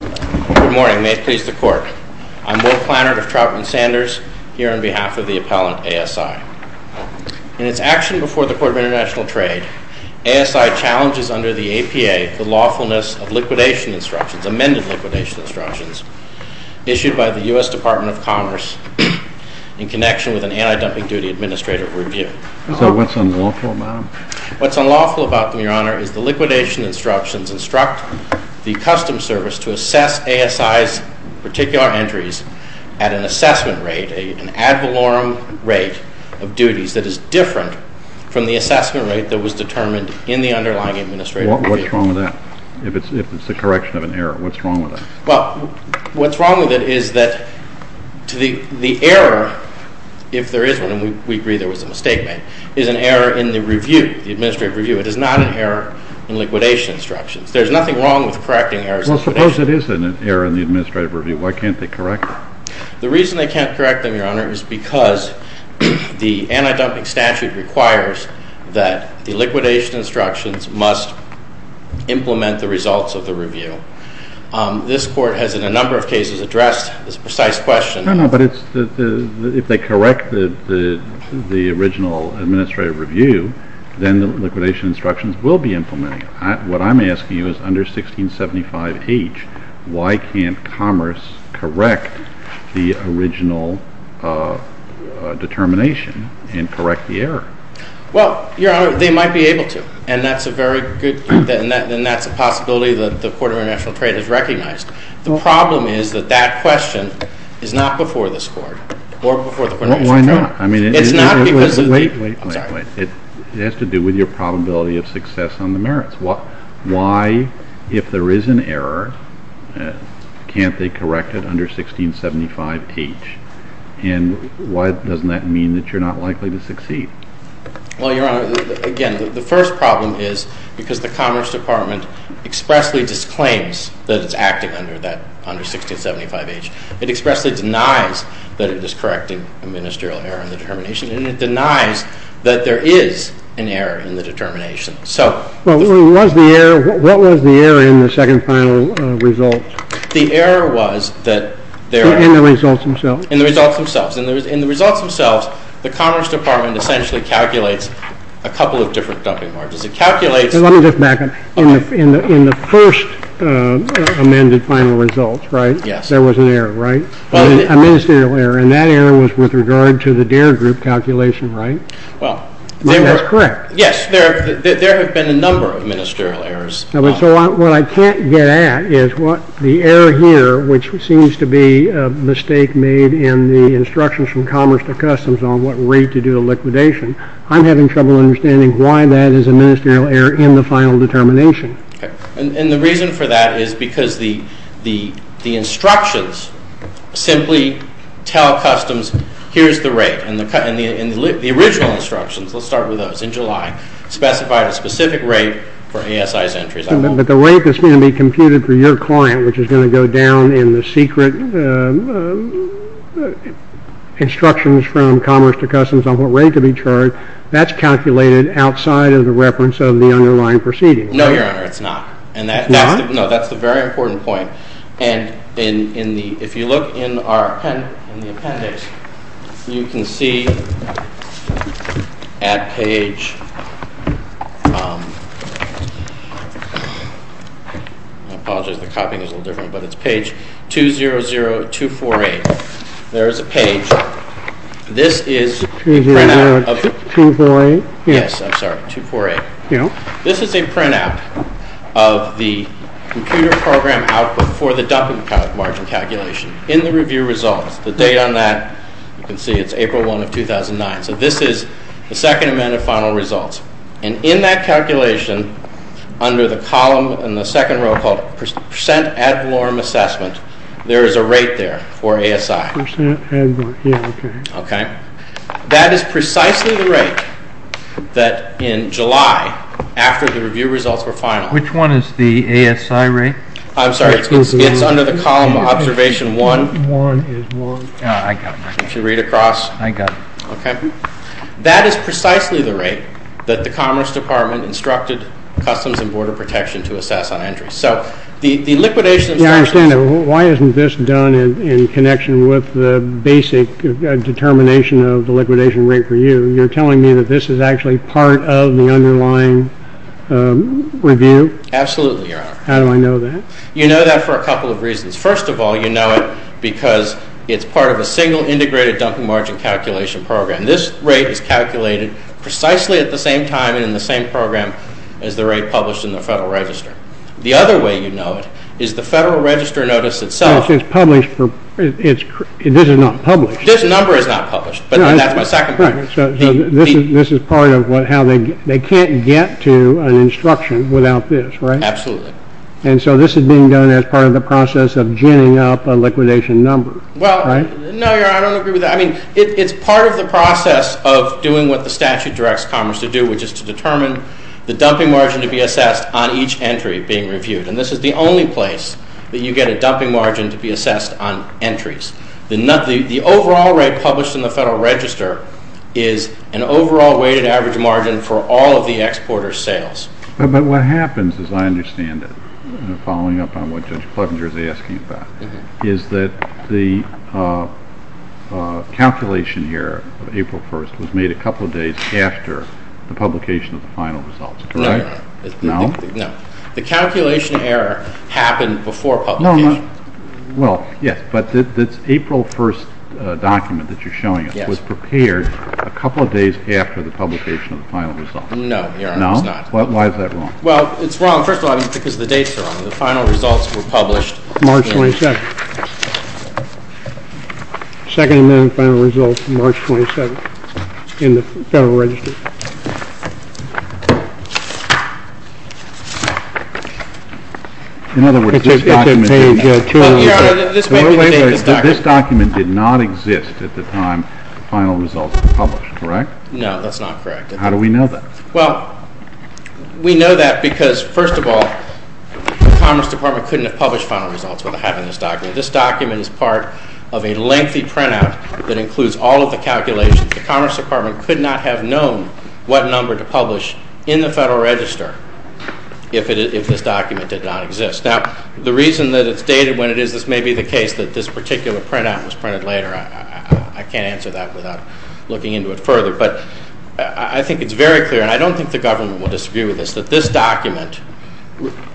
Good morning. May it please the Court. I'm Will Plannert of Troutman Sanders, here on behalf of the Appellant ASI. In its action before the Court of International Trade, ASI challenges under the APA the lawfulness of liquidation instructions, amended liquidation instructions, issued by the U.S. Department of Commerce in connection with an anti-dumping duty administrative review. So what's unlawful about them? What's unlawful about them, Your Honor, is the liquidation instructions instruct the Customs Service to assess ASI's particular entries at an assessment rate, an ad valorem rate of duties that is different from the assessment rate that was determined in the underlying administrative review. What's wrong with that? If it's the correction of an error, what's wrong with that? Well, what's wrong with it is that the error, if there is one, and we agree there was a mistake made, is an error in the review, the administrative review. It is not an error in liquidation instructions. There's nothing wrong with correcting errors in liquidation instructions. Well, suppose it is an error in the administrative review. Why can't they correct it? The reason they can't correct them, Your Honor, is because the anti-dumping statute requires that the liquidation instructions must implement the results of the review. This Court has in a number of cases addressed this precise question. No, no, but if they correct the original administrative review, then the liquidation instructions will be implemented. What I'm asking you is, under 1675H, why can't Commerce correct the original determination and correct the error? Well, Your Honor, they might be able to, and that's a very good, and that's a possibility that the Court of International Trade has recognized. The problem is that that question is not before this Court, or before the Court of International Trade. Well, why not? I mean, it has to do with your probability of success on the merits. Why, if there is an error, can't they correct it under 1675H? And why doesn't that mean that you're not likely to succeed? Well, Your Honor, again, the first problem is because the Commerce Department expressly disclaims that it's acting under 1675H. It expressly denies that it is correcting a ministerial error in the determination, and it denies that there is an error in the determination. What was the error in the second final result? The error was that there— In the results themselves? In the results themselves. In the results themselves, the Commerce Department essentially calculates a couple of different dumping margins. It calculates— Let me just back up. In the first amended final result, right? Yes. There was an error, right? A ministerial error, and that error was with regard to the DARE group calculation, right? Well, they were— That's correct. Yes, there have been a number of ministerial errors. So what I can't get at is what the error here, which seems to be a mistake made in the instructions from Commerce to Customs on what rate to do a liquidation, I'm having trouble understanding why that is a ministerial error in the final determination. And the reason for that is because the instructions simply tell Customs, here's the rate. The original instructions, let's start with those, in July, specified a specific rate for ASI's entries. But the rate that's going to be computed for your client, which is going to go down in the secret instructions from Commerce to Customs on what rate to be charged, that's calculated outside of the reference of the underlying proceedings. No, Your Honor, it's not. It's not? No, that's the very important point. And if you look in the appendix, you can see at page—I apologize, the copying is a little different, but it's page 200248. There is a page. This is a printout of— 200248? Yes, I'm sorry, 248. This is a printout of the computer program output for the dumping margin calculation in the review results. The date on that, you can see it's April 1 of 2009. So this is the second amendment final results. And in that calculation, under the column in the second row called percent ad valorem assessment, there is a rate there for ASI. Percent ad valorem, yeah, okay. That is precisely the rate that in July, after the review results were final— Which one is the ASI rate? I'm sorry, it's under the column observation one. One is one. I got it. If you read across— I got it. Okay. That is precisely the rate that the Commerce Department instructed Customs and Border Protection to assess on entry. So the liquidation— I don't understand it. Why isn't this done in connection with the basic determination of the liquidation rate for you? You're telling me that this is actually part of the underlying review? Absolutely, Your Honor. How do I know that? You know that for a couple of reasons. First of all, you know it because it's part of a single integrated dumping margin calculation program. This rate is calculated precisely at the same time and in the same program as the rate published in the Federal Register. The other way you know it is the Federal Register notice itself— It's published for—this is not published. This number is not published, but that's my second point. So this is part of how they can't get to an instruction without this, right? Absolutely. And so this is being done as part of the process of ginning up a liquidation number, right? Well, no, Your Honor, I don't agree with that. I mean, it's part of the process of doing what the statute directs Commerce to do, which is to determine the dumping margin to be assessed on each entry being reviewed. And this is the only place that you get a dumping margin to be assessed on entries. The overall rate published in the Federal Register is an overall weighted average margin for all of the exporters' sales. But what happens, as I understand it, following up on what Judge Clevenger is asking about, is that the calculation error of April 1st was made a couple of days after the publication of the final results, correct? No, Your Honor. No? The calculation error happened before publication. Well, yes, but this April 1st document that you're showing us was prepared a couple of days after the publication of the final results. No, Your Honor, it was not. No? Why is that wrong? Well, it's wrong, first of all, because the dates are wrong. The final results were published March 22nd. Second Amendment final results, March 27th, in the Federal Register. In other words, this document did not exist at the time the final results were published, correct? No, that's not correct. How do we know that? Well, we know that because, first of all, the Commerce Department couldn't have published final results without having this document. This document is part of a lengthy printout that includes all of the calculations. The Commerce Department could not have known what number to publish in the Federal Register if this document did not exist. Now, the reason that it's dated when it is, this may be the case that this particular printout was printed later. I can't answer that without looking into it further. But I think it's very clear, and I don't think the government will disagree with this, that this document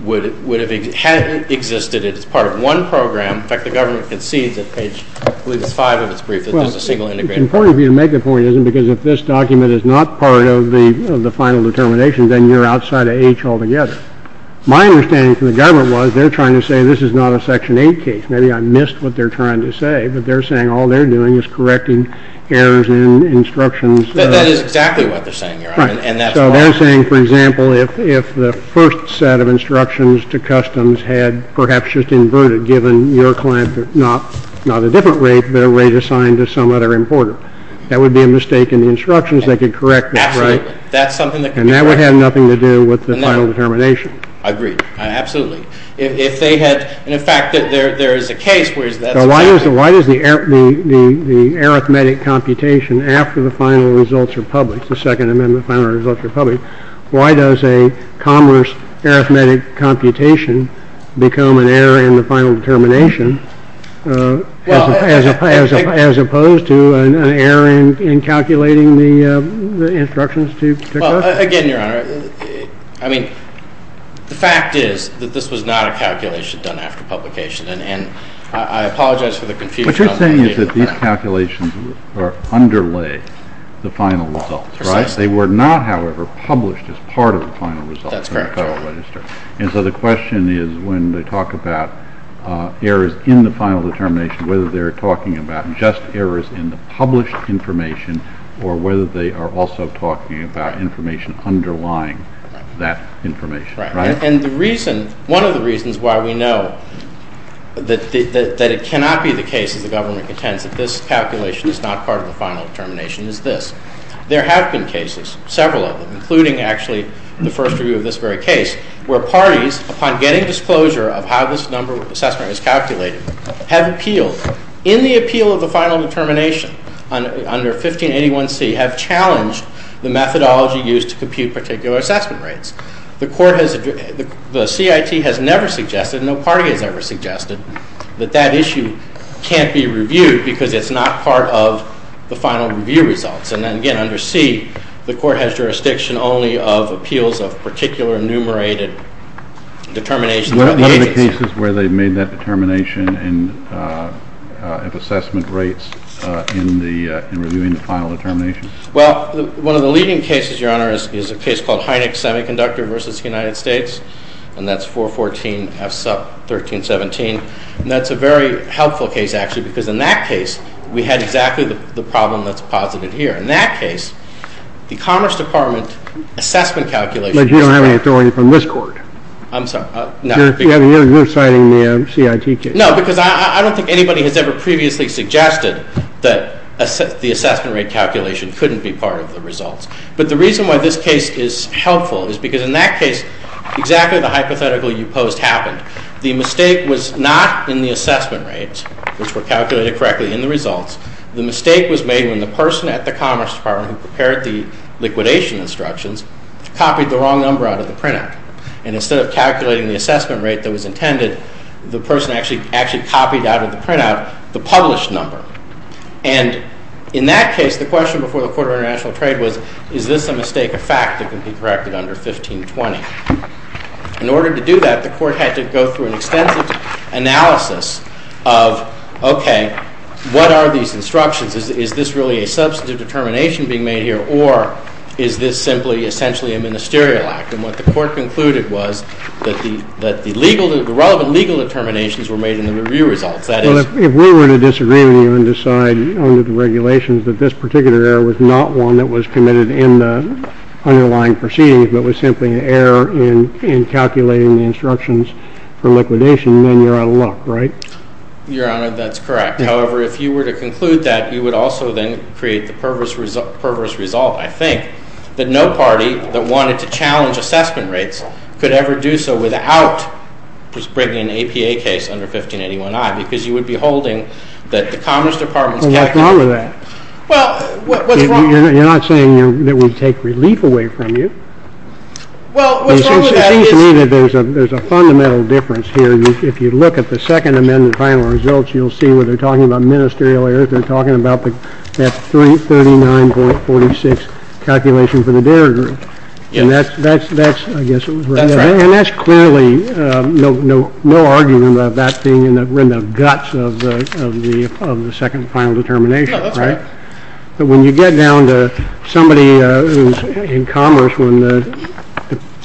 would have existed if it was part of one program. In fact, the government concedes at page, I believe it's five of its brief, that there's a single integrated. Well, it's important for you to make the point, isn't it, because if this document is not part of the final determination, then you're outside of H altogether. My understanding from the government was they're trying to say this is not a Section 8 case. Maybe I missed what they're trying to say, but they're saying all they're doing is correcting errors in instructions. That is exactly what they're saying, Your Honor, and that's why. Right. So they're saying, for example, if the first set of instructions to customs had perhaps just inverted, given your client not a different rate, but a rate assigned to some other importer, that would be a mistake in the instructions. They could correct it, right? Absolutely. That's something that could be corrected. And that would have nothing to do with the final determination. I agree. Absolutely. And in fact, there is a case where that's correct. So why does the arithmetic computation after the final results are public, the Second Amendment final results are public, why does a commerce arithmetic computation become an error in the final determination as opposed to an error in calculating the instructions to customs? Again, Your Honor, I mean, the fact is that this was not a calculation done after publication, and I apologize for the confusion. What you're saying is that these calculations underlay the final results, right? Precisely. They were not, however, published as part of the final results in the Federal Register. That's correct. And so the question is when they talk about errors in the final determination, whether they're talking about just errors in the published information or whether they are also talking about information underlying that information. Right. And the reason, one of the reasons why we know that it cannot be the case, as the government contends, that this calculation is not part of the final determination is this. There have been cases, several of them, including actually the first review of this very case, where parties, upon getting disclosure of how this number assessment was calculated, have appealed in the appeal of the final determination under 1581C, have challenged the methodology used to compute particular assessment rates. The CIT has never suggested, no party has ever suggested, that that issue can't be reviewed because it's not part of the final review results. And again, under C, the Court has jurisdiction only of appeals of particular enumerated determination. What are the cases where they've made that determination of assessment rates in reviewing the final determination? Well, one of the leading cases, Your Honor, is a case called Hynek Semiconductor versus the United States, and that's 414F sub 1317. And that's a very helpful case, actually, because in that case we had exactly the problem that's posited here. In that case, the Commerce Department assessment calculations But you don't have any authority from this Court. I'm sorry. You're citing the CIT case. No, because I don't think anybody has ever previously suggested that the assessment rate calculation couldn't be part of the results. But the reason why this case is helpful is because in that case, exactly the hypothetical you posed happened. The mistake was not in the assessment rates, which were calculated correctly in the results. The mistake was made when the person at the Commerce Department who prepared the liquidation instructions copied the wrong number out of the printout. And instead of calculating the assessment rate that was intended, the person actually copied out of the printout the published number. And in that case, the question before the Court of International Trade was, is this a mistake of fact that can be corrected under 1520? In order to do that, the Court had to go through an extensive analysis of, okay, what are these instructions? Is this really a substantive determination being made here, or is this simply essentially a ministerial act? And what the Court concluded was that the relevant legal determinations were made in the review results. Well, if we were to disagree with you and decide under the regulations that this particular error was not one that was committed in the underlying proceedings but was simply an error in calculating the instructions for liquidation, then you're out of luck, right? Your Honor, that's correct. However, if you were to conclude that, you would also then create the perverse result, I think, that no party that wanted to challenge assessment rates could ever do so without just bringing an APA case under 1581I because you would be holding that the Commerce Department's calculations... Well, what's wrong with that? Well, what's wrong... You're not saying that it would take relief away from you? Well, what's wrong with that is... It seems to me that there's a fundamental difference here. If you look at the Second Amendment final results, you'll see where they're talking about ministerial errors. They're talking about that 39.46 calculation for the dairy group, and that's clearly no argument about that being in the guts of the second final determination, right? Yeah, that's right. But when you get down to somebody who's in commerce, when the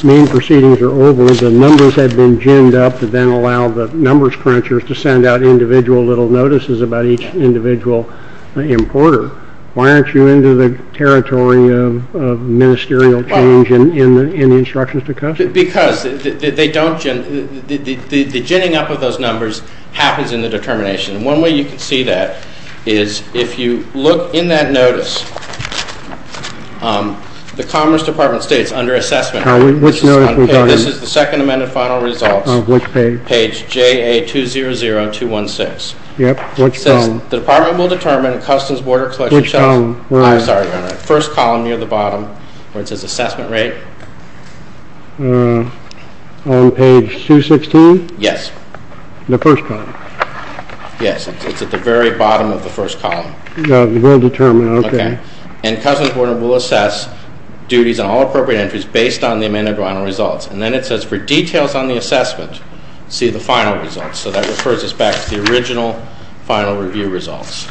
main proceedings are over, the numbers have been ginned up to then allow the numbers crunchers to send out individual little notices about each individual importer. Why aren't you into the territory of ministerial change in the instructions to customers? Because the ginning up of those numbers happens in the determination, and one way you can see that is if you look in that notice, the Commerce Department states under assessment... Which notice are we talking about? This is the Second Amendment final results. Which page? Page JA200216. Yep. Which column? The Department will determine Customs Border Collection... Which column? I'm sorry, first column near the bottom where it says assessment rate. On page 216? Yes. The first column. Yes, it's at the very bottom of the first column. We'll determine, okay. And Customs Border will assess duties on all appropriate entries based on the amended final results. And then it says for details on the assessment, see the final results. So that refers us back to the original final review results.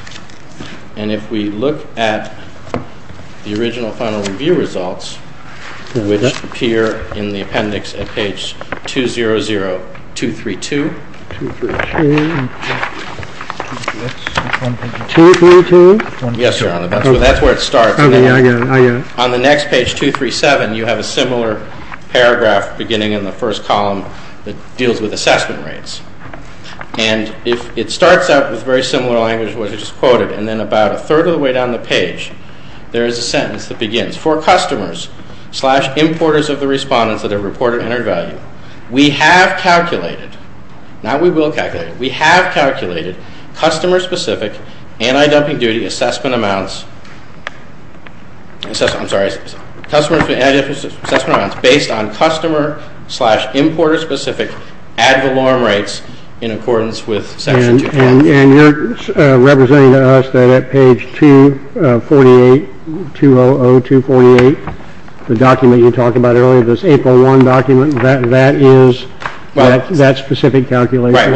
And if we look at the original final review results, which appear in the appendix at page 200232. 200232? Yes, Your Honor. That's where it starts. I get it. On the next page, 237, you have a similar paragraph beginning in the first column that deals with assessment rates. And it starts out with very similar language to what I just quoted. And then about a third of the way down the page, there is a sentence that begins, For customers slash importers of the respondents that have reported entered value, we have calculated, not we will calculate, we have calculated customer-specific anti-dumping duty assessment amounts. I'm sorry. Customer assessment amounts based on customer slash importer-specific ad valorem rates in accordance with section 2. And you're representing to us that at page 248, 200248, the document you talked about earlier, this 801 document, that is that specific calculation? Right.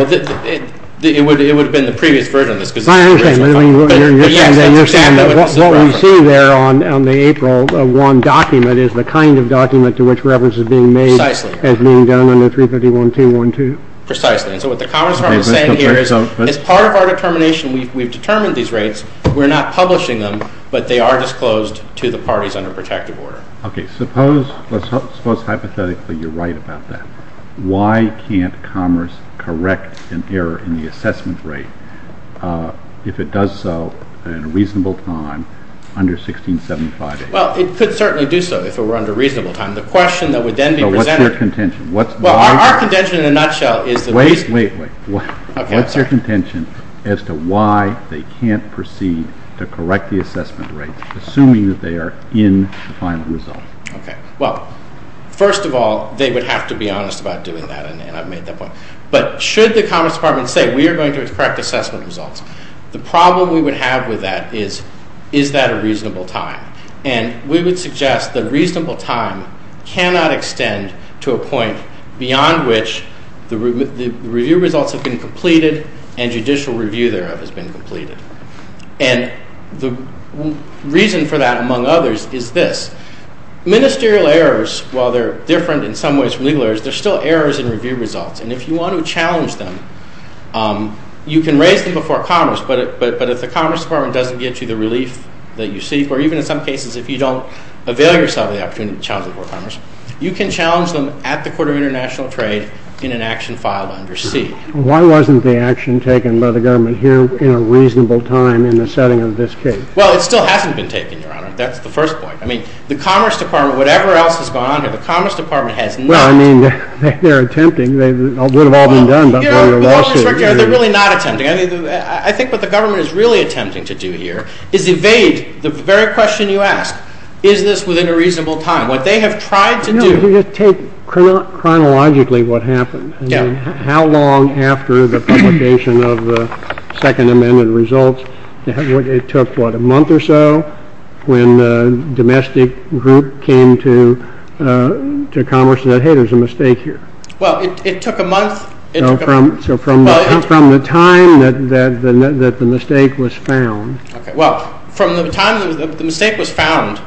It would have been the previous version of this. I understand. What we see there on the April 1 document is the kind of document to which reference is being made as being done under 351212. Precisely. And so what the Commerce Department is saying here is as part of our determination, we've determined these rates, we're not publishing them, but they are disclosed to the parties under protective order. Okay. Suppose hypothetically you're right about that. Why can't Commerce correct an error in the assessment rate if it does so in a reasonable time under 1675A? Well, it could certainly do so if it were under reasonable time. The question that would then be presented- But what's their contention? Well, our contention in a nutshell is that- Wait, wait, wait. Okay, I'm sorry. What's their contention as to why they can't proceed to correct the assessment rate, assuming that they are in the final result? Okay. Well, first of all, they would have to be honest about doing that, and I've made that point. But should the Commerce Department say, we are going to correct assessment results, the problem we would have with that is, is that a reasonable time? And we would suggest that reasonable time cannot extend to a point beyond which the review results have been completed and judicial review thereof has been completed. And the reason for that, among others, is this. Ministerial errors, while they're different in some ways from legal errors, they're still errors in review results. And if you want to challenge them, you can raise them before Commerce, but if the Commerce Department doesn't get you the relief that you seek, or even in some cases if you don't avail yourself of the opportunity to challenge them before Commerce, you can challenge them at the Court of International Trade in an action filed under C. Why wasn't the action taken by the government here in a reasonable time in the setting of this case? Well, it still hasn't been taken, Your Honor. That's the first point. I mean, the Commerce Department, whatever else has gone on here, the Commerce Department has not. Well, I mean, they're attempting. It would have all been done before the lawsuit. They're really not attempting. I think what the government is really attempting to do here is evade the very question you asked. Is this within a reasonable time? What they have tried to do. Could you just take chronologically what happened? Yeah. How long after the publication of the Second Amendment results, it took, what, a month or so, when the domestic group came to Commerce and said, hey, there's a mistake here? Well, it took a month. So from the time that the mistake was found. Well, from the time the mistake was found,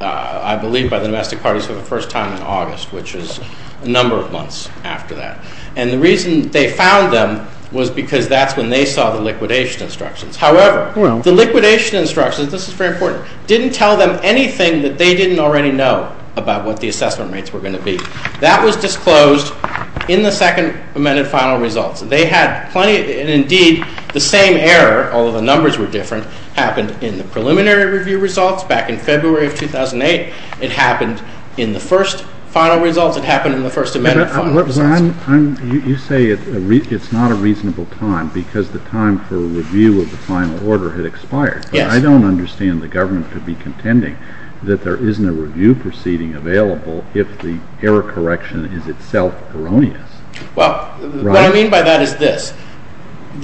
I believe, by the domestic parties for the first time in August, which is a number of months after that. And the reason they found them was because that's when they saw the liquidation instructions. However, the liquidation instructions, this is very important, didn't tell them anything that they didn't already know about what the assessment rates were going to be. That was disclosed in the Second Amendment final results. And indeed, the same error, although the numbers were different, happened in the preliminary review results back in February of 2008. It happened in the first final results. It happened in the First Amendment final results. You say it's not a reasonable time because the time for review of the final order had expired. Yes. But I don't understand the government to be contending that there isn't a review proceeding available if the error correction is itself erroneous. Well, what I mean by that is this.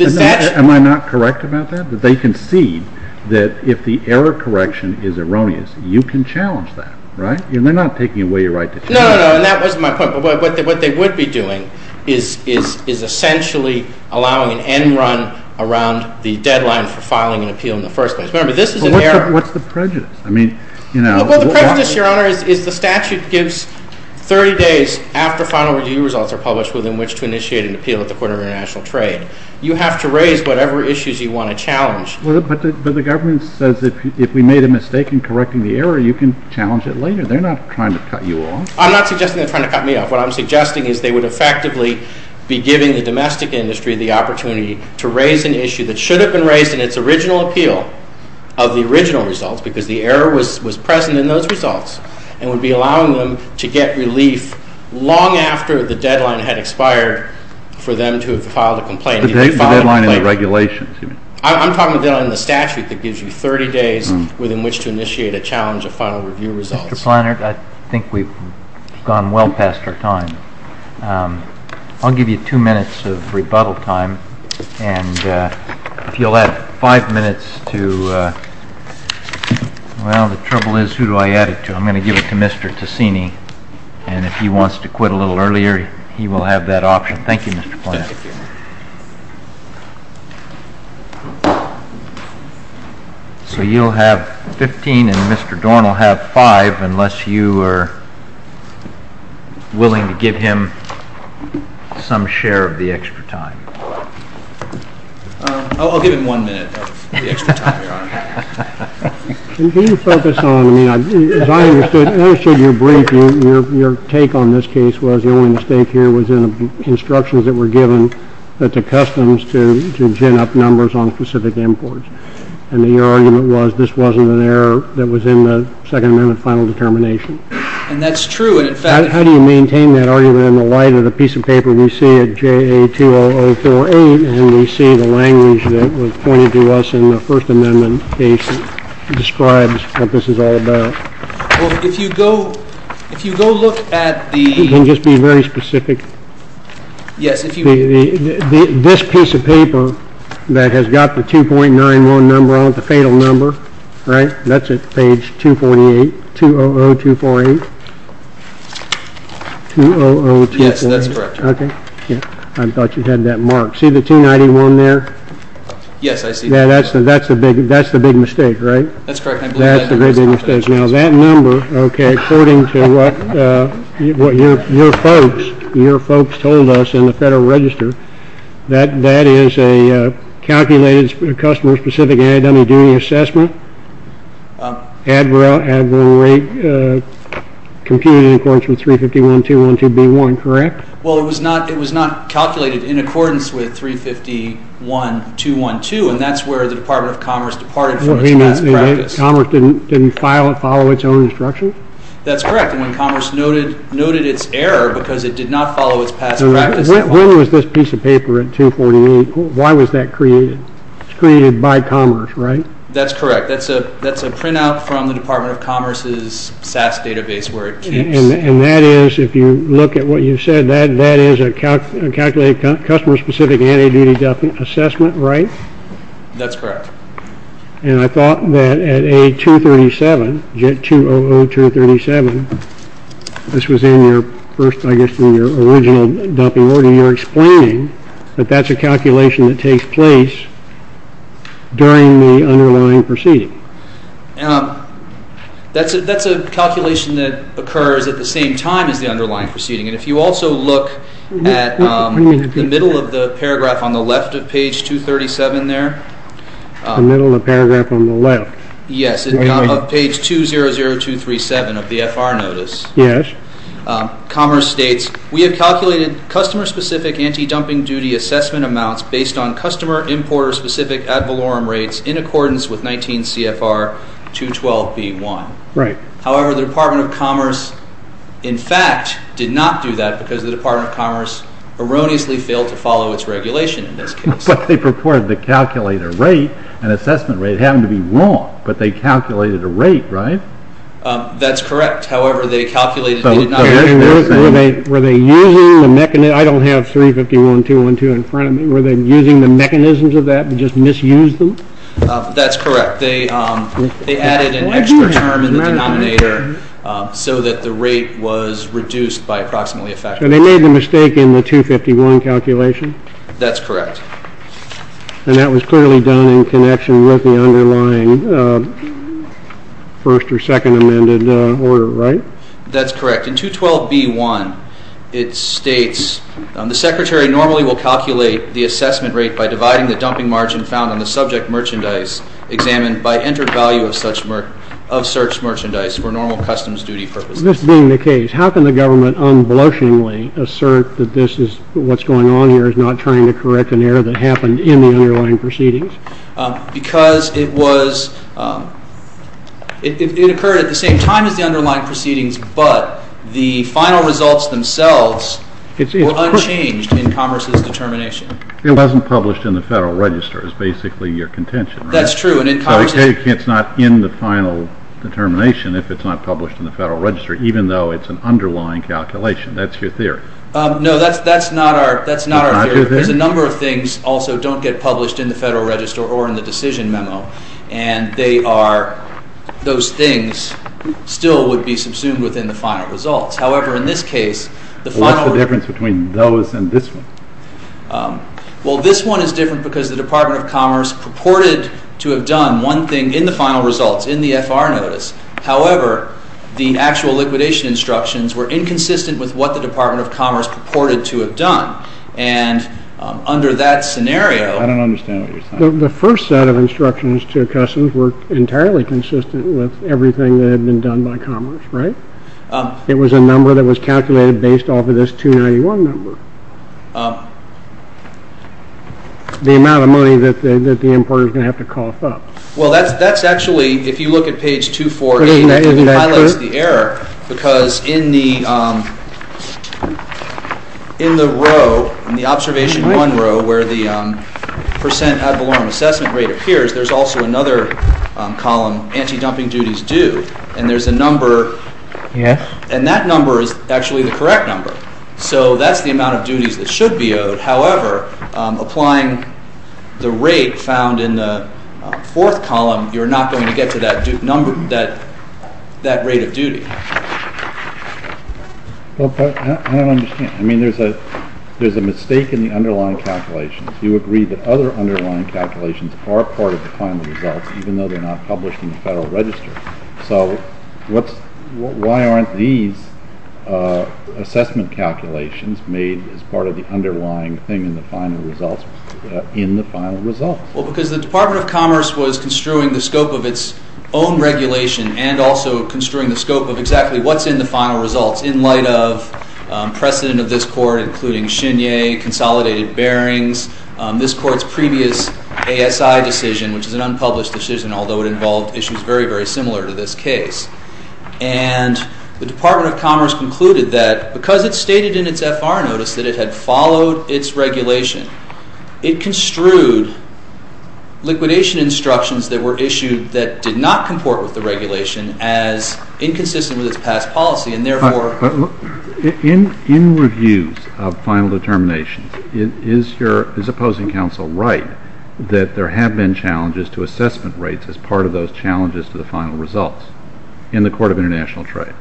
Am I not correct about that? That they concede that if the error correction is erroneous, you can challenge that, right? And they're not taking away your right to challenge it. No, no, no, and that wasn't my point. But what they would be doing is essentially allowing an end run around the deadline for filing an appeal in the first place. Remember, this is an error. But what's the prejudice? Well, the prejudice, Your Honor, is the statute gives 30 days after final review results are published within which to initiate an appeal at the Court of International Trade. You have to raise whatever issues you want to challenge. But the government says if we made a mistake in correcting the error, you can challenge it later. They're not trying to cut you off. I'm not suggesting they're trying to cut me off. What I'm suggesting is they would effectively be giving the domestic industry the opportunity to raise an issue that should have been raised in its original appeal of the original results because the error was present in those results and would be allowing them to get relief long after the deadline had expired for them to have filed a complaint. The deadline in the regulations, you mean? I'm talking about the deadline in the statute that gives you 30 days within which to initiate a challenge of final review results. Mr. Planner, I think we've gone well past our time. I'll give you two minutes of rebuttal time. If you'll add five minutes to – well, the trouble is who do I add it to? I'm going to give it to Mr. Ticini, and if he wants to quit a little earlier, he will have that option. Thank you, Mr. Planner. Thank you. So you'll have 15, and Mr. Dorn will have five unless you are willing to give him some share of the extra time. I'll give him one minute of the extra time, Your Honor. Can you focus on – as I understood your brief, your take on this case was the only mistake here was in the instructions that were given to customs to gin up numbers on specific imports, and your argument was this wasn't an error that was in the Second Amendment final determination. And that's true, and in fact – How do you maintain that argument in the light of the piece of paper we see at JA20048, and we see the language that was pointed to us in the First Amendment case that describes what this is all about? Well, if you go – if you go look at the – Can you just be very specific? Yes, if you – This piece of paper that has got the 2.91 number on it, the fatal number, right? That's at page 248, 200248. 200248. Yes, that's correct. Okay. I thought you had that marked. See the 291 there? Yes, I see that. Yeah, that's the big mistake, right? That's correct. That's the big mistake. Now, that number, okay, according to what your folks told us in the Federal Register, that is a calculated customer-specific annual duty assessment, at the rate computed in accordance with 351.212.B1, correct? Well, it was not calculated in accordance with 351.212, and that's where the Department of Commerce departed from its last practice. Commerce didn't follow its own instructions? That's correct. And Commerce noted its error because it did not follow its past practice. When was this piece of paper at 248? Why was that created? It's created by Commerce, right? That's correct. That's a printout from the Department of Commerce's SAS database where it kicks. And that is, if you look at what you said, that is a calculated customer-specific annual duty assessment, right? That's correct. And I thought that at A237, JET 200237, this was in your first, I guess in your original dumping order, you're explaining that that's a calculation that takes place during the underlying proceeding. That's a calculation that occurs at the same time as the underlying proceeding. And if you also look at the middle of the paragraph on the left of page 237 there. The middle of the paragraph on the left? Yes, of page 200237 of the FR notice. Yes. Commerce states, We have calculated customer-specific anti-dumping duty assessment amounts based on customer importer-specific ad valorem rates in accordance with 19 CFR 212B1. Right. However, the Department of Commerce, in fact, did not do that because the Department of Commerce erroneously failed to follow its regulation in this case. But they purported to calculate a rate, an assessment rate. It happened to be wrong, but they calculated a rate, right? That's correct. However, they calculated the denominator. Were they using the mechanism? I don't have 351.212 in front of me. Were they using the mechanisms of that and just misused them? That's correct. They added an extra term in the denominator so that the rate was reduced by approximately a factor. And they made the mistake in the 251 calculation? That's correct. And that was clearly done in connection with the underlying first or second amended order, right? That's correct. In 212B1, it states, The secretary normally will calculate the assessment rate by dividing the dumping margin found on the subject merchandise examined by entered value of searched merchandise for normal customs duty purposes. This being the case, how can the government unblushingly assert that this is what's going on here is not trying to correct an error that happened in the underlying proceedings? Because it occurred at the same time as the underlying proceedings, but the final results themselves were unchanged in Commerce's determination. It wasn't published in the Federal Register. It was basically your contention, right? That's true. So it's not in the final determination if it's not published in the Federal Register, even though it's an underlying calculation. That's your theory. No, that's not our theory. It's not your theory? Because a number of things also don't get published in the Federal Register or in the decision memo, and those things still would be subsumed within the final results. However, in this case, the final results... What's the difference between those and this one? Well, this one is different because the Department of Commerce purported to have done one thing in the final results, in the FR notice. However, the actual liquidation instructions were inconsistent with what the Department of Commerce purported to have done, and under that scenario... I don't understand what you're saying. The first set of instructions to customs were entirely consistent with everything that had been done by Commerce, right? It was a number that was calculated based off of this 291 number, the amount of money that the importer is going to have to cost up. Well, that's actually, if you look at page 248, it highlights the error because in the row, in the observation one row, where the percent ad valorem assessment rate appears, there's also another column, anti-dumping duties due, and there's a number, and that number is actually the correct number. So that's the amount of duties that should be owed. However, applying the rate found in the fourth column, you're not going to get to that rate of duty. I don't understand. I mean, there's a mistake in the underlying calculations. You agreed that other underlying calculations are part of the final results, even though they're not published in the Federal Register. So why aren't these assessment calculations made as part of the underlying thing in the final results, in the final results? Well, because the Department of Commerce was construing the scope of its own regulation and also construing the scope of exactly what's in the final results in light of precedent of this Court, including Chenier, consolidated bearings, this Court's previous ASI decision, which is an unpublished decision, although it involved issues very, very similar to this case. And the Department of Commerce concluded that because it stated in its FR notice that it had followed its regulation, it construed liquidation instructions that were issued that did not comport with the regulation as inconsistent with its past policy, and therefore... In reviews of final determinations, is opposing counsel right that there have been challenges to assessment rates as part of those challenges to the final results in the Court of International Trade?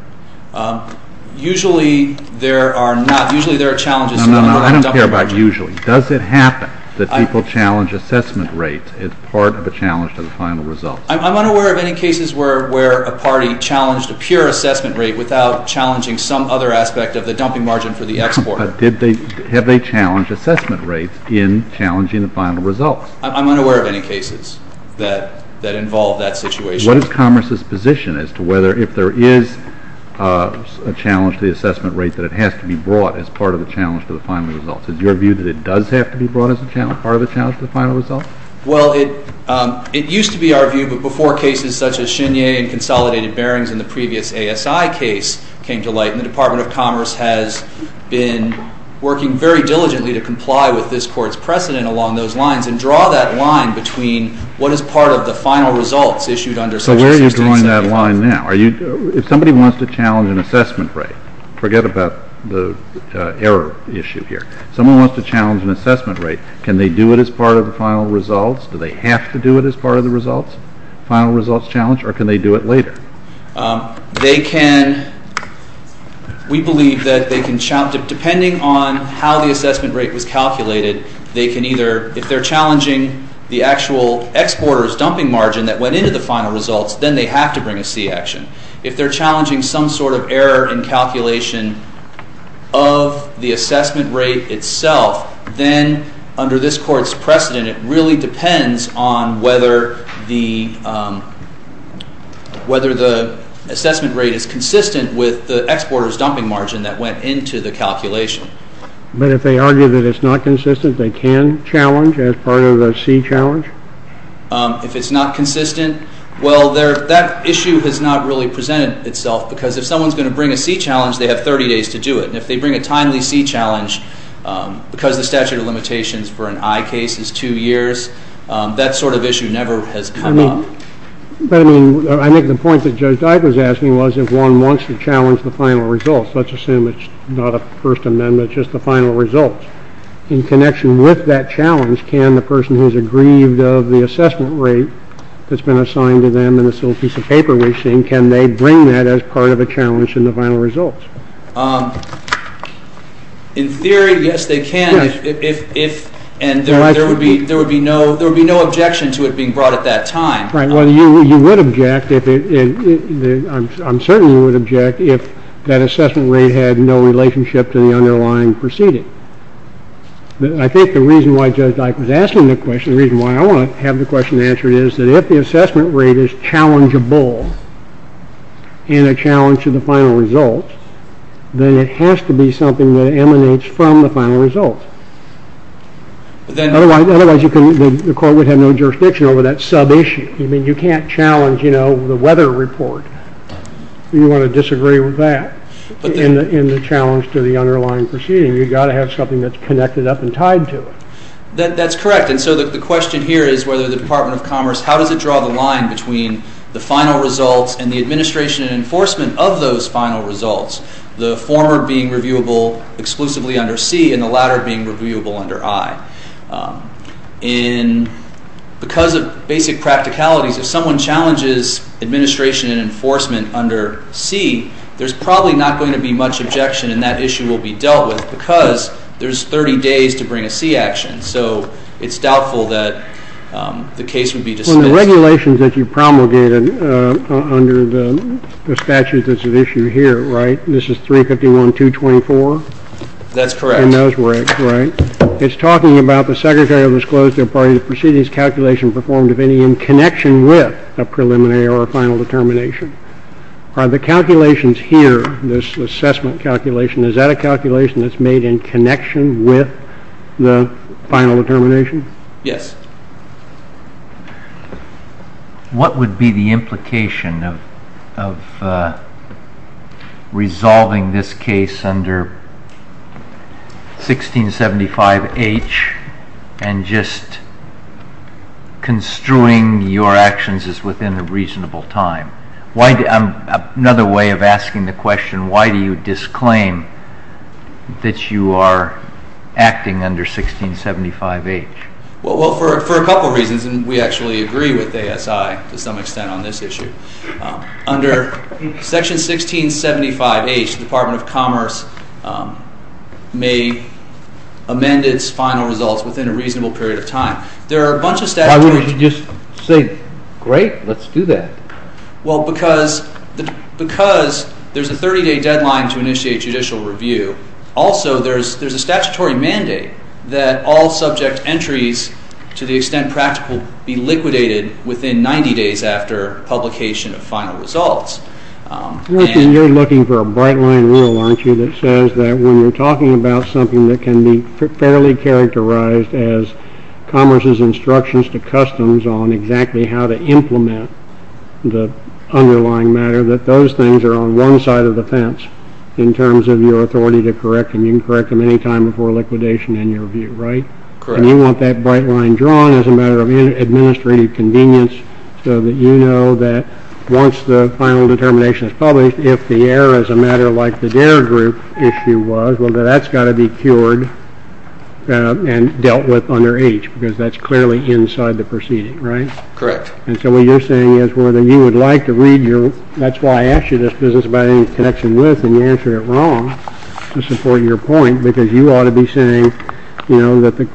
Usually there are not. Usually there are challenges... No, no, no. I don't care about usually. Does it happen that people challenge assessment rates as part of a challenge to the final results? I'm unaware of any cases where a party challenged a pure assessment rate without challenging some other aspect of the dumping margin for the export. But have they challenged assessment rates in challenging the final results? I'm unaware of any cases that involve that situation. What is Commerce's position as to whether if there is a challenge to the assessment rate that it has to be brought as part of a challenge to the final results? Is your view that it does have to be brought as part of a challenge to the final results? Well, it used to be our view, but before cases such as Chenier and consolidated bearings in the previous ASI case came to light, the Department of Commerce has been working very diligently to comply with this Court's precedent along those lines and draw that line between what is part of the final results issued under such consistency. So where are you drawing that line now? If somebody wants to challenge an assessment rate, forget about the error issue here. Someone wants to challenge an assessment rate. Can they do it as part of the final results? Do they have to do it as part of the results, final results challenge, or can they do it later? They can. We believe that they can, depending on how the assessment rate was calculated, they can either, if they're challenging the actual exporter's dumping margin that went into the final results, then they have to bring a C action. If they're challenging some sort of error in calculation of the assessment rate itself, then under this Court's precedent, it really depends on whether the assessment rate is consistent with the exporter's dumping margin that went into the calculation. But if they argue that it's not consistent, they can challenge as part of the C challenge? If it's not consistent, well, that issue has not really presented itself because if someone's going to bring a C challenge, they have 30 days to do it. And if they bring a timely C challenge because the statute of limitations for an I case is two years, that sort of issue never has come up. But, I mean, I think the point that Judge Dyke was asking was if one wants to challenge the final results, let's assume it's not a First Amendment, just the final results, in connection with that challenge, can the person who's aggrieved of the assessment rate that's been assigned to them in this little piece of paper we're seeing, can they bring that as part of a challenge in the final results? In theory, yes, they can. And there would be no objection to it being brought at that time. Right. Well, you would object, I'm certain you would object, if that assessment rate had no relationship to the underlying proceeding. I think the reason why Judge Dyke was asking the question, the reason why I want to have the question answered, is that if the assessment rate is challengeable in a challenge to the final results, then it has to be something that emanates from the final results. Otherwise, the court would have no jurisdiction over that sub-issue. I mean, you can't challenge, you know, the weather report. You want to disagree with that in the challenge to the underlying proceeding. You've got to have something that's connected up and tied to it. That's correct. And so the question here is whether the Department of Commerce, how does it draw the line between the final results and the administration and enforcement of those final results, the former being reviewable exclusively under C and the latter being reviewable under I? And because of basic practicalities, if someone challenges administration and enforcement under C, there's probably not going to be much objection, and that issue will be dealt with because there's 30 days to bring a C action. So it's doubtful that the case would be dismissed. Well, the regulations that you promulgated under the statute that's at issue here, right? This is 351.224? That's correct. And those were it, right? It's talking about the secretary of the disclosed to a party, and the proceedings calculation performed of any in connection with a preliminary or a final determination. Are the calculations here, this assessment calculation, is that a calculation that's made in connection with the final determination? Yes. What would be the implication of resolving this case under 1675H and just construing your actions as within a reasonable time? Another way of asking the question, why do you disclaim that you are acting under 1675H? Well, for a couple reasons, and we actually agree with ASI to some extent on this issue. Under section 1675H, the Department of Commerce may amend its final results within a reasonable period of time. Why wouldn't you just say, great, let's do that? Well, because there's a 30-day deadline to initiate judicial review. Also, there's a statutory mandate that all subject entries, to the extent practical, be liquidated within 90 days after publication of final results. You're looking for a bright line rule, aren't you, that says that when you're talking about something that can be fairly characterized as Commerce's instructions to customs on exactly how to implement the underlying matter, that those things are on one side of the fence in terms of your authority to correct them. You can correct them any time before liquidation in your review, right? Correct. And you want that bright line drawn as a matter of administrative convenience so that you know that once the final determination is published, if the error is a matter like the DARE group issue was, well, then that's got to be cured and dealt with under H, because that's clearly inside the proceeding, right? Correct. And so what you're saying is whether you would like to read your, that's why I asked you this business about any connection with, and you answered it wrong, to support your point, because you ought to be saying, you know, that the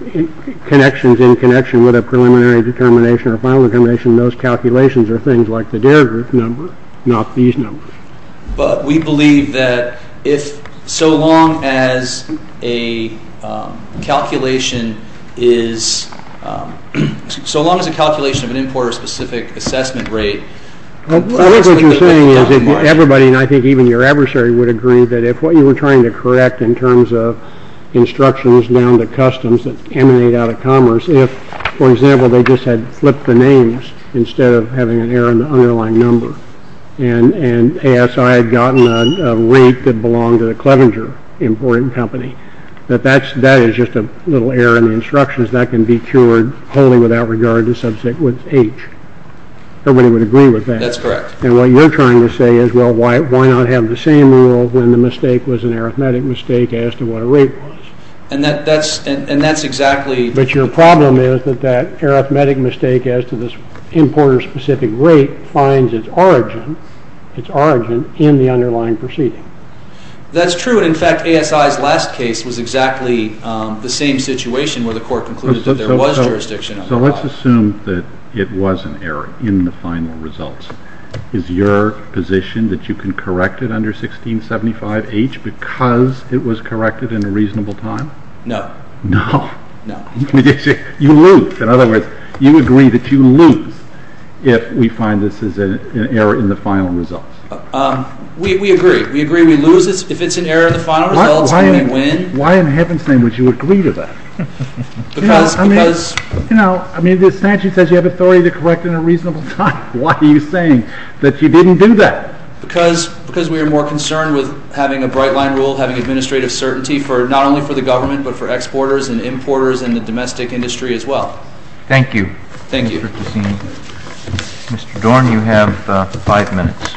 connections in connection with a preliminary determination or final determination, those calculations are things like the DARE group number, not these numbers. But we believe that if so long as a calculation is, so long as a calculation of an importer-specific assessment rate, I think what you're saying is that everybody, and I think even your adversary, would agree that if what you were trying to correct in terms of instructions down to customs that emanate out of commerce, if, for example, they just had flipped the names instead of having an error in the underlying number, and ASI had gotten a rate that belonged to the Clevenger importing company, that that is just a little error in the instructions. That can be cured wholly without regard to subject with H. Everybody would agree with that. That's correct. And what you're trying to say is, well, why not have the same rule when the mistake was an arithmetic mistake as to what a rate was? And that's exactly. But your problem is that that arithmetic mistake as to this importer-specific rate finds its origin in the underlying proceeding. That's true. And, in fact, ASI's last case was exactly the same situation where the court concluded that there was jurisdiction on the plot. So let's assume that it was an error in the final results. Is your position that you can correct it under 1675H because it was corrected in a reasonable time? No. No? No. You lose. In other words, you agree that you lose if we find this is an error in the final results. We agree. We agree we lose if it's an error in the final results and we win. Why in heaven's name would you agree to that? I mean, the statute says you have authority to correct in a reasonable time. Why are you saying that you didn't do that? Because we are more concerned with having a bright-line rule, having administrative certainty not only for the government but for exporters and importers and the domestic industry as well. Thank you. Thank you. Mr. Dorn, you have five minutes.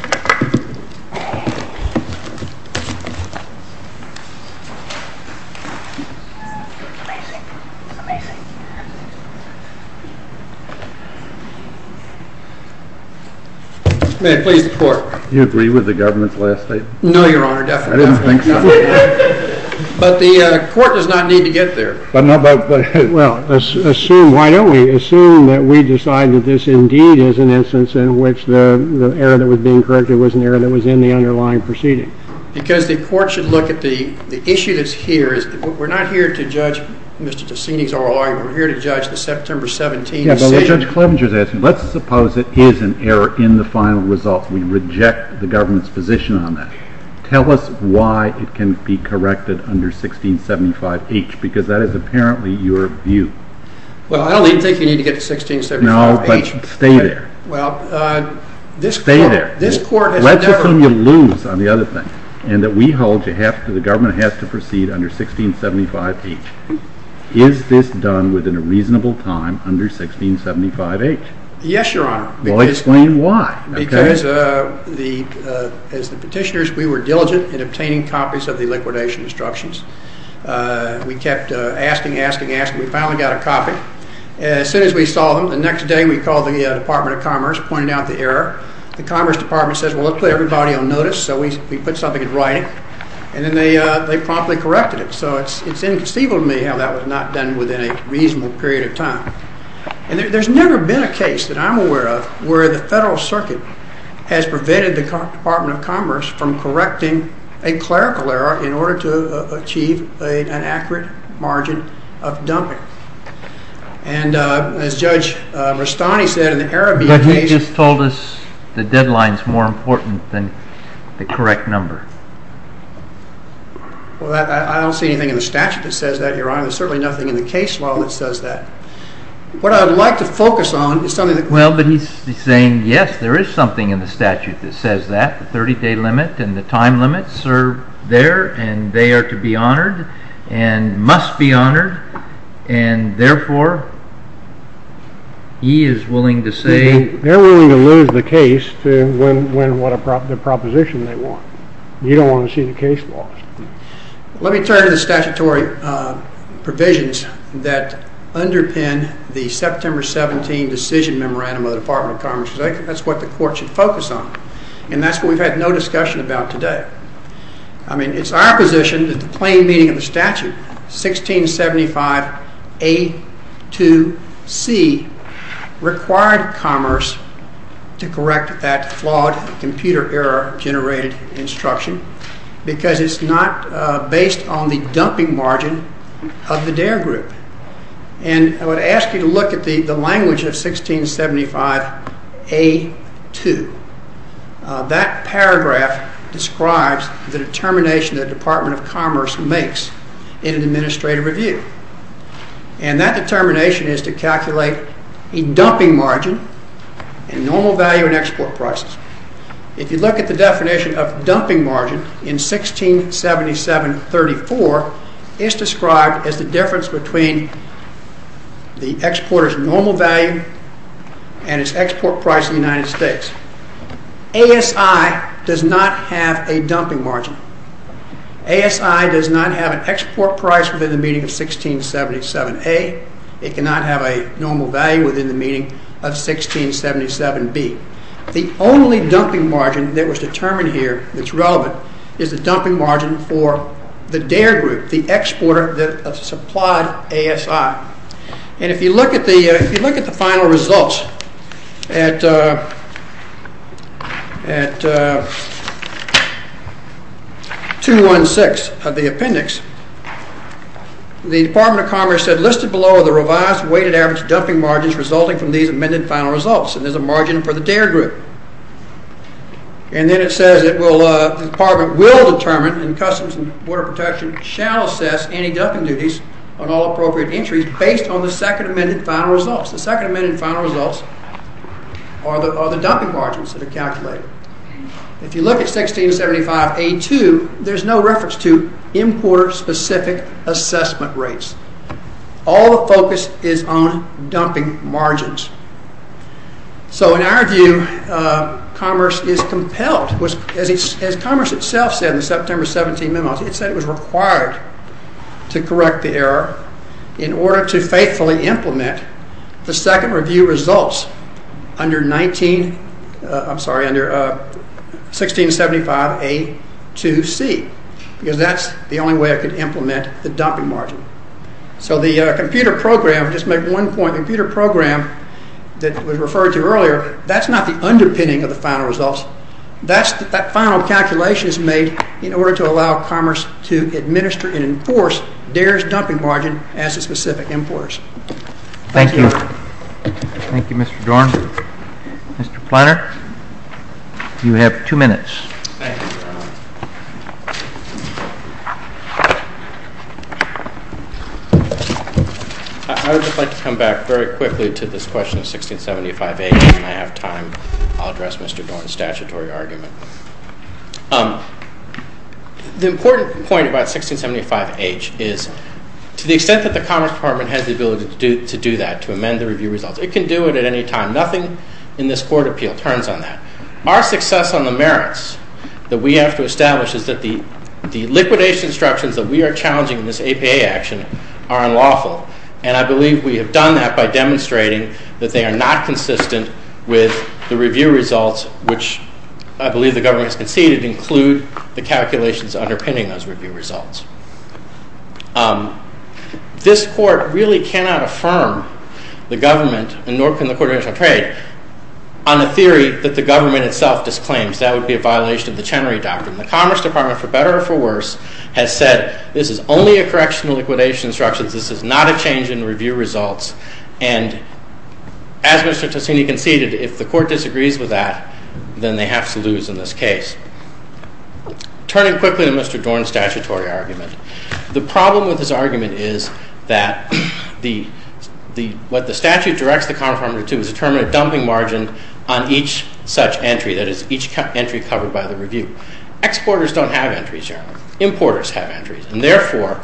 May I please report? Do you agree with the government's last statement? No, Your Honor. Definitely not. I didn't think so. But the court does not need to get there. Well, assume, why don't we assume that we decide that this indeed is an instance in which the error that was being corrected was an error that was in the underlying proceeding. Because the court should look at the issue that's here. We're not here to judge Mr. Dorn. We're here to judge the September 17 decision. But Judge Clevenger is asking, let's suppose it is an error in the final result. We reject the government's position on that. Tell us why it can be corrected under 1675H because that is apparently your view. Well, I don't think you need to get to 1675H. No, but stay there. Well, this court has never. Let's assume you lose on the other thing and that we hold that the government has to proceed under 1675H. Is this done within a reasonable time under 1675H? Yes, Your Honor. Well, explain why. Because as the petitioners, we were diligent in obtaining copies of the liquidation instructions. We kept asking, asking, asking. We finally got a copy. As soon as we saw them, the next day we called the Department of Commerce, pointed out the error. The Commerce Department says, well, let's put everybody on notice. So we put something in writing. And then they promptly corrected it. So it's inconceivable to me how that was not done within a reasonable period of time. And there's never been a case that I'm aware of where the Federal Circuit has prevented the Department of Commerce from correcting a clerical error in order to achieve an accurate margin of dumping. And as Judge Rastani said, in the Arabian case— But he just told us the deadline is more important than the correct number. Well, I don't see anything in the statute that says that, Your Honor. There's certainly nothing in the case law that says that. What I would like to focus on is something that— Well, but he's saying, yes, there is something in the statute that says that. The 30-day limit and the time limits are there, and they are to be honored and must be honored. And therefore, he is willing to say— They're willing to lose the case to win the proposition they want. You don't want to see the case lost. Let me turn to the statutory provisions that underpin the September 17 decision memorandum of the Department of Commerce. That's what the Court should focus on. And that's what we've had no discussion about today. I mean, it's our position that the plain meaning of the statute, 1675A2C, required Commerce to correct that flawed computer error-generated instruction because it's not based on the dumping margin of the DARE group. And I would ask you to look at the language of 1675A2. That paragraph describes the determination the Department of Commerce makes in an administrative review. And that determination is to calculate a dumping margin in normal value and export prices. If you look at the definition of dumping margin in 167734, it's described as the difference between the exporter's normal value and its export price in the United States. ASI does not have a dumping margin. ASI does not have an export price within the meaning of 1677A. It cannot have a normal value within the meaning of 1677B. The only dumping margin that was determined here that's relevant is the dumping margin for the DARE group, the exporter that supplied ASI. And if you look at the final results at 216 of the appendix, the Department of Commerce said listed below are the revised weighted average dumping margins resulting from these amended final results. And there's a margin for the DARE group. And then it says the Department will determine and Customs and Border Protection shall assess any dumping duties on all appropriate entries based on the second amended final results. The second amended final results are the dumping margins that are calculated. If you look at 1675A2, there's no reference to importer-specific assessment rates. All the focus is on dumping margins. So in our view, Commerce is compelled. As Commerce itself said in the September 17 memos, it said it was required to correct the error in order to faithfully implement the second review results under 1675A2C. Because that's the only way it could implement the dumping margin. So the computer program, just to make one point, the computer program that was referred to earlier, that's not the underpinning of the final results. That final calculation is made in order to allow Commerce to administer and enforce DARE's dumping margin as a specific importer's. Thank you. Thank you, Mr. Dorn. Mr. Planner, you have two minutes. Thank you. I would just like to come back very quickly to this question of 1675H. When I have time, I'll address Mr. Dorn's statutory argument. The important point about 1675H is to the extent that the Commerce Department has the ability to do that, to amend the review results, it can do it at any time. Nothing in this court appeal turns on that. Our success on the merits that we have to establish is that the liquidation instructions that we are challenging in this APA action are unlawful, and I believe we have done that by demonstrating that they are not consistent with the review results, which I believe the government has conceded include the calculations underpinning those review results. This court really cannot affirm the government, nor can the Court of International Trade, on a theory that the government itself disclaims. That would be a violation of the Chenery Doctrine. The Commerce Department, for better or for worse, has said this is only a correction to liquidation instructions. This is not a change in review results, and as Mr. Tosini conceded, if the Court disagrees with that, then they have to lose in this case. Turning quickly to Mr. Dorn's statutory argument, the problem with his argument is that what the statute directs the Commerce Department to is determine a dumping margin on each such entry, that is, each entry covered by the review. Exporters don't have entries here. Importers have entries, and therefore,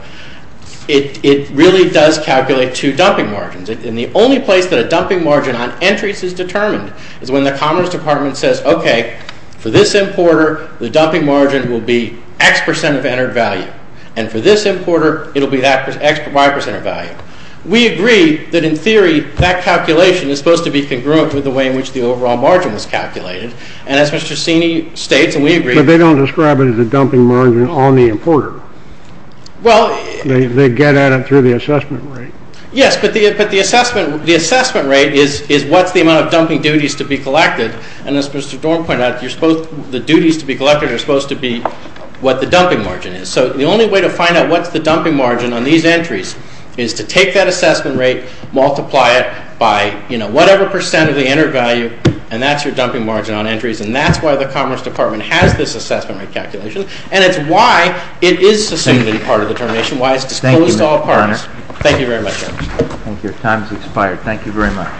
it really does calculate two dumping margins, and the only place that a dumping margin on entries is determined is when the Commerce Department says, okay, for this importer, the dumping margin will be X percent of entered value, and for this importer, it will be that Y percent of value. We agree that in theory, that calculation is supposed to be congruent with the way in which the overall margin was calculated, and as Mr. Tosini states, and we agree- But they don't describe it as a dumping margin on the importer. Well- They get at it through the assessment rate. Yes, but the assessment rate is what's the amount of dumping duties to be collected, and as Mr. Dorn pointed out, the duties to be collected are supposed to be what the dumping margin is. So the only way to find out what's the dumping margin on these entries is to take that assessment rate, multiply it by, you know, whatever percent of the entered value, and that's your dumping margin on entries, and that's why the Commerce Department has this assessment rate calculation, and it's why it is a significant part of the determination, why it's disclosed to all parties. Thank you very much. Thank you. Your time has expired. Thank you very much.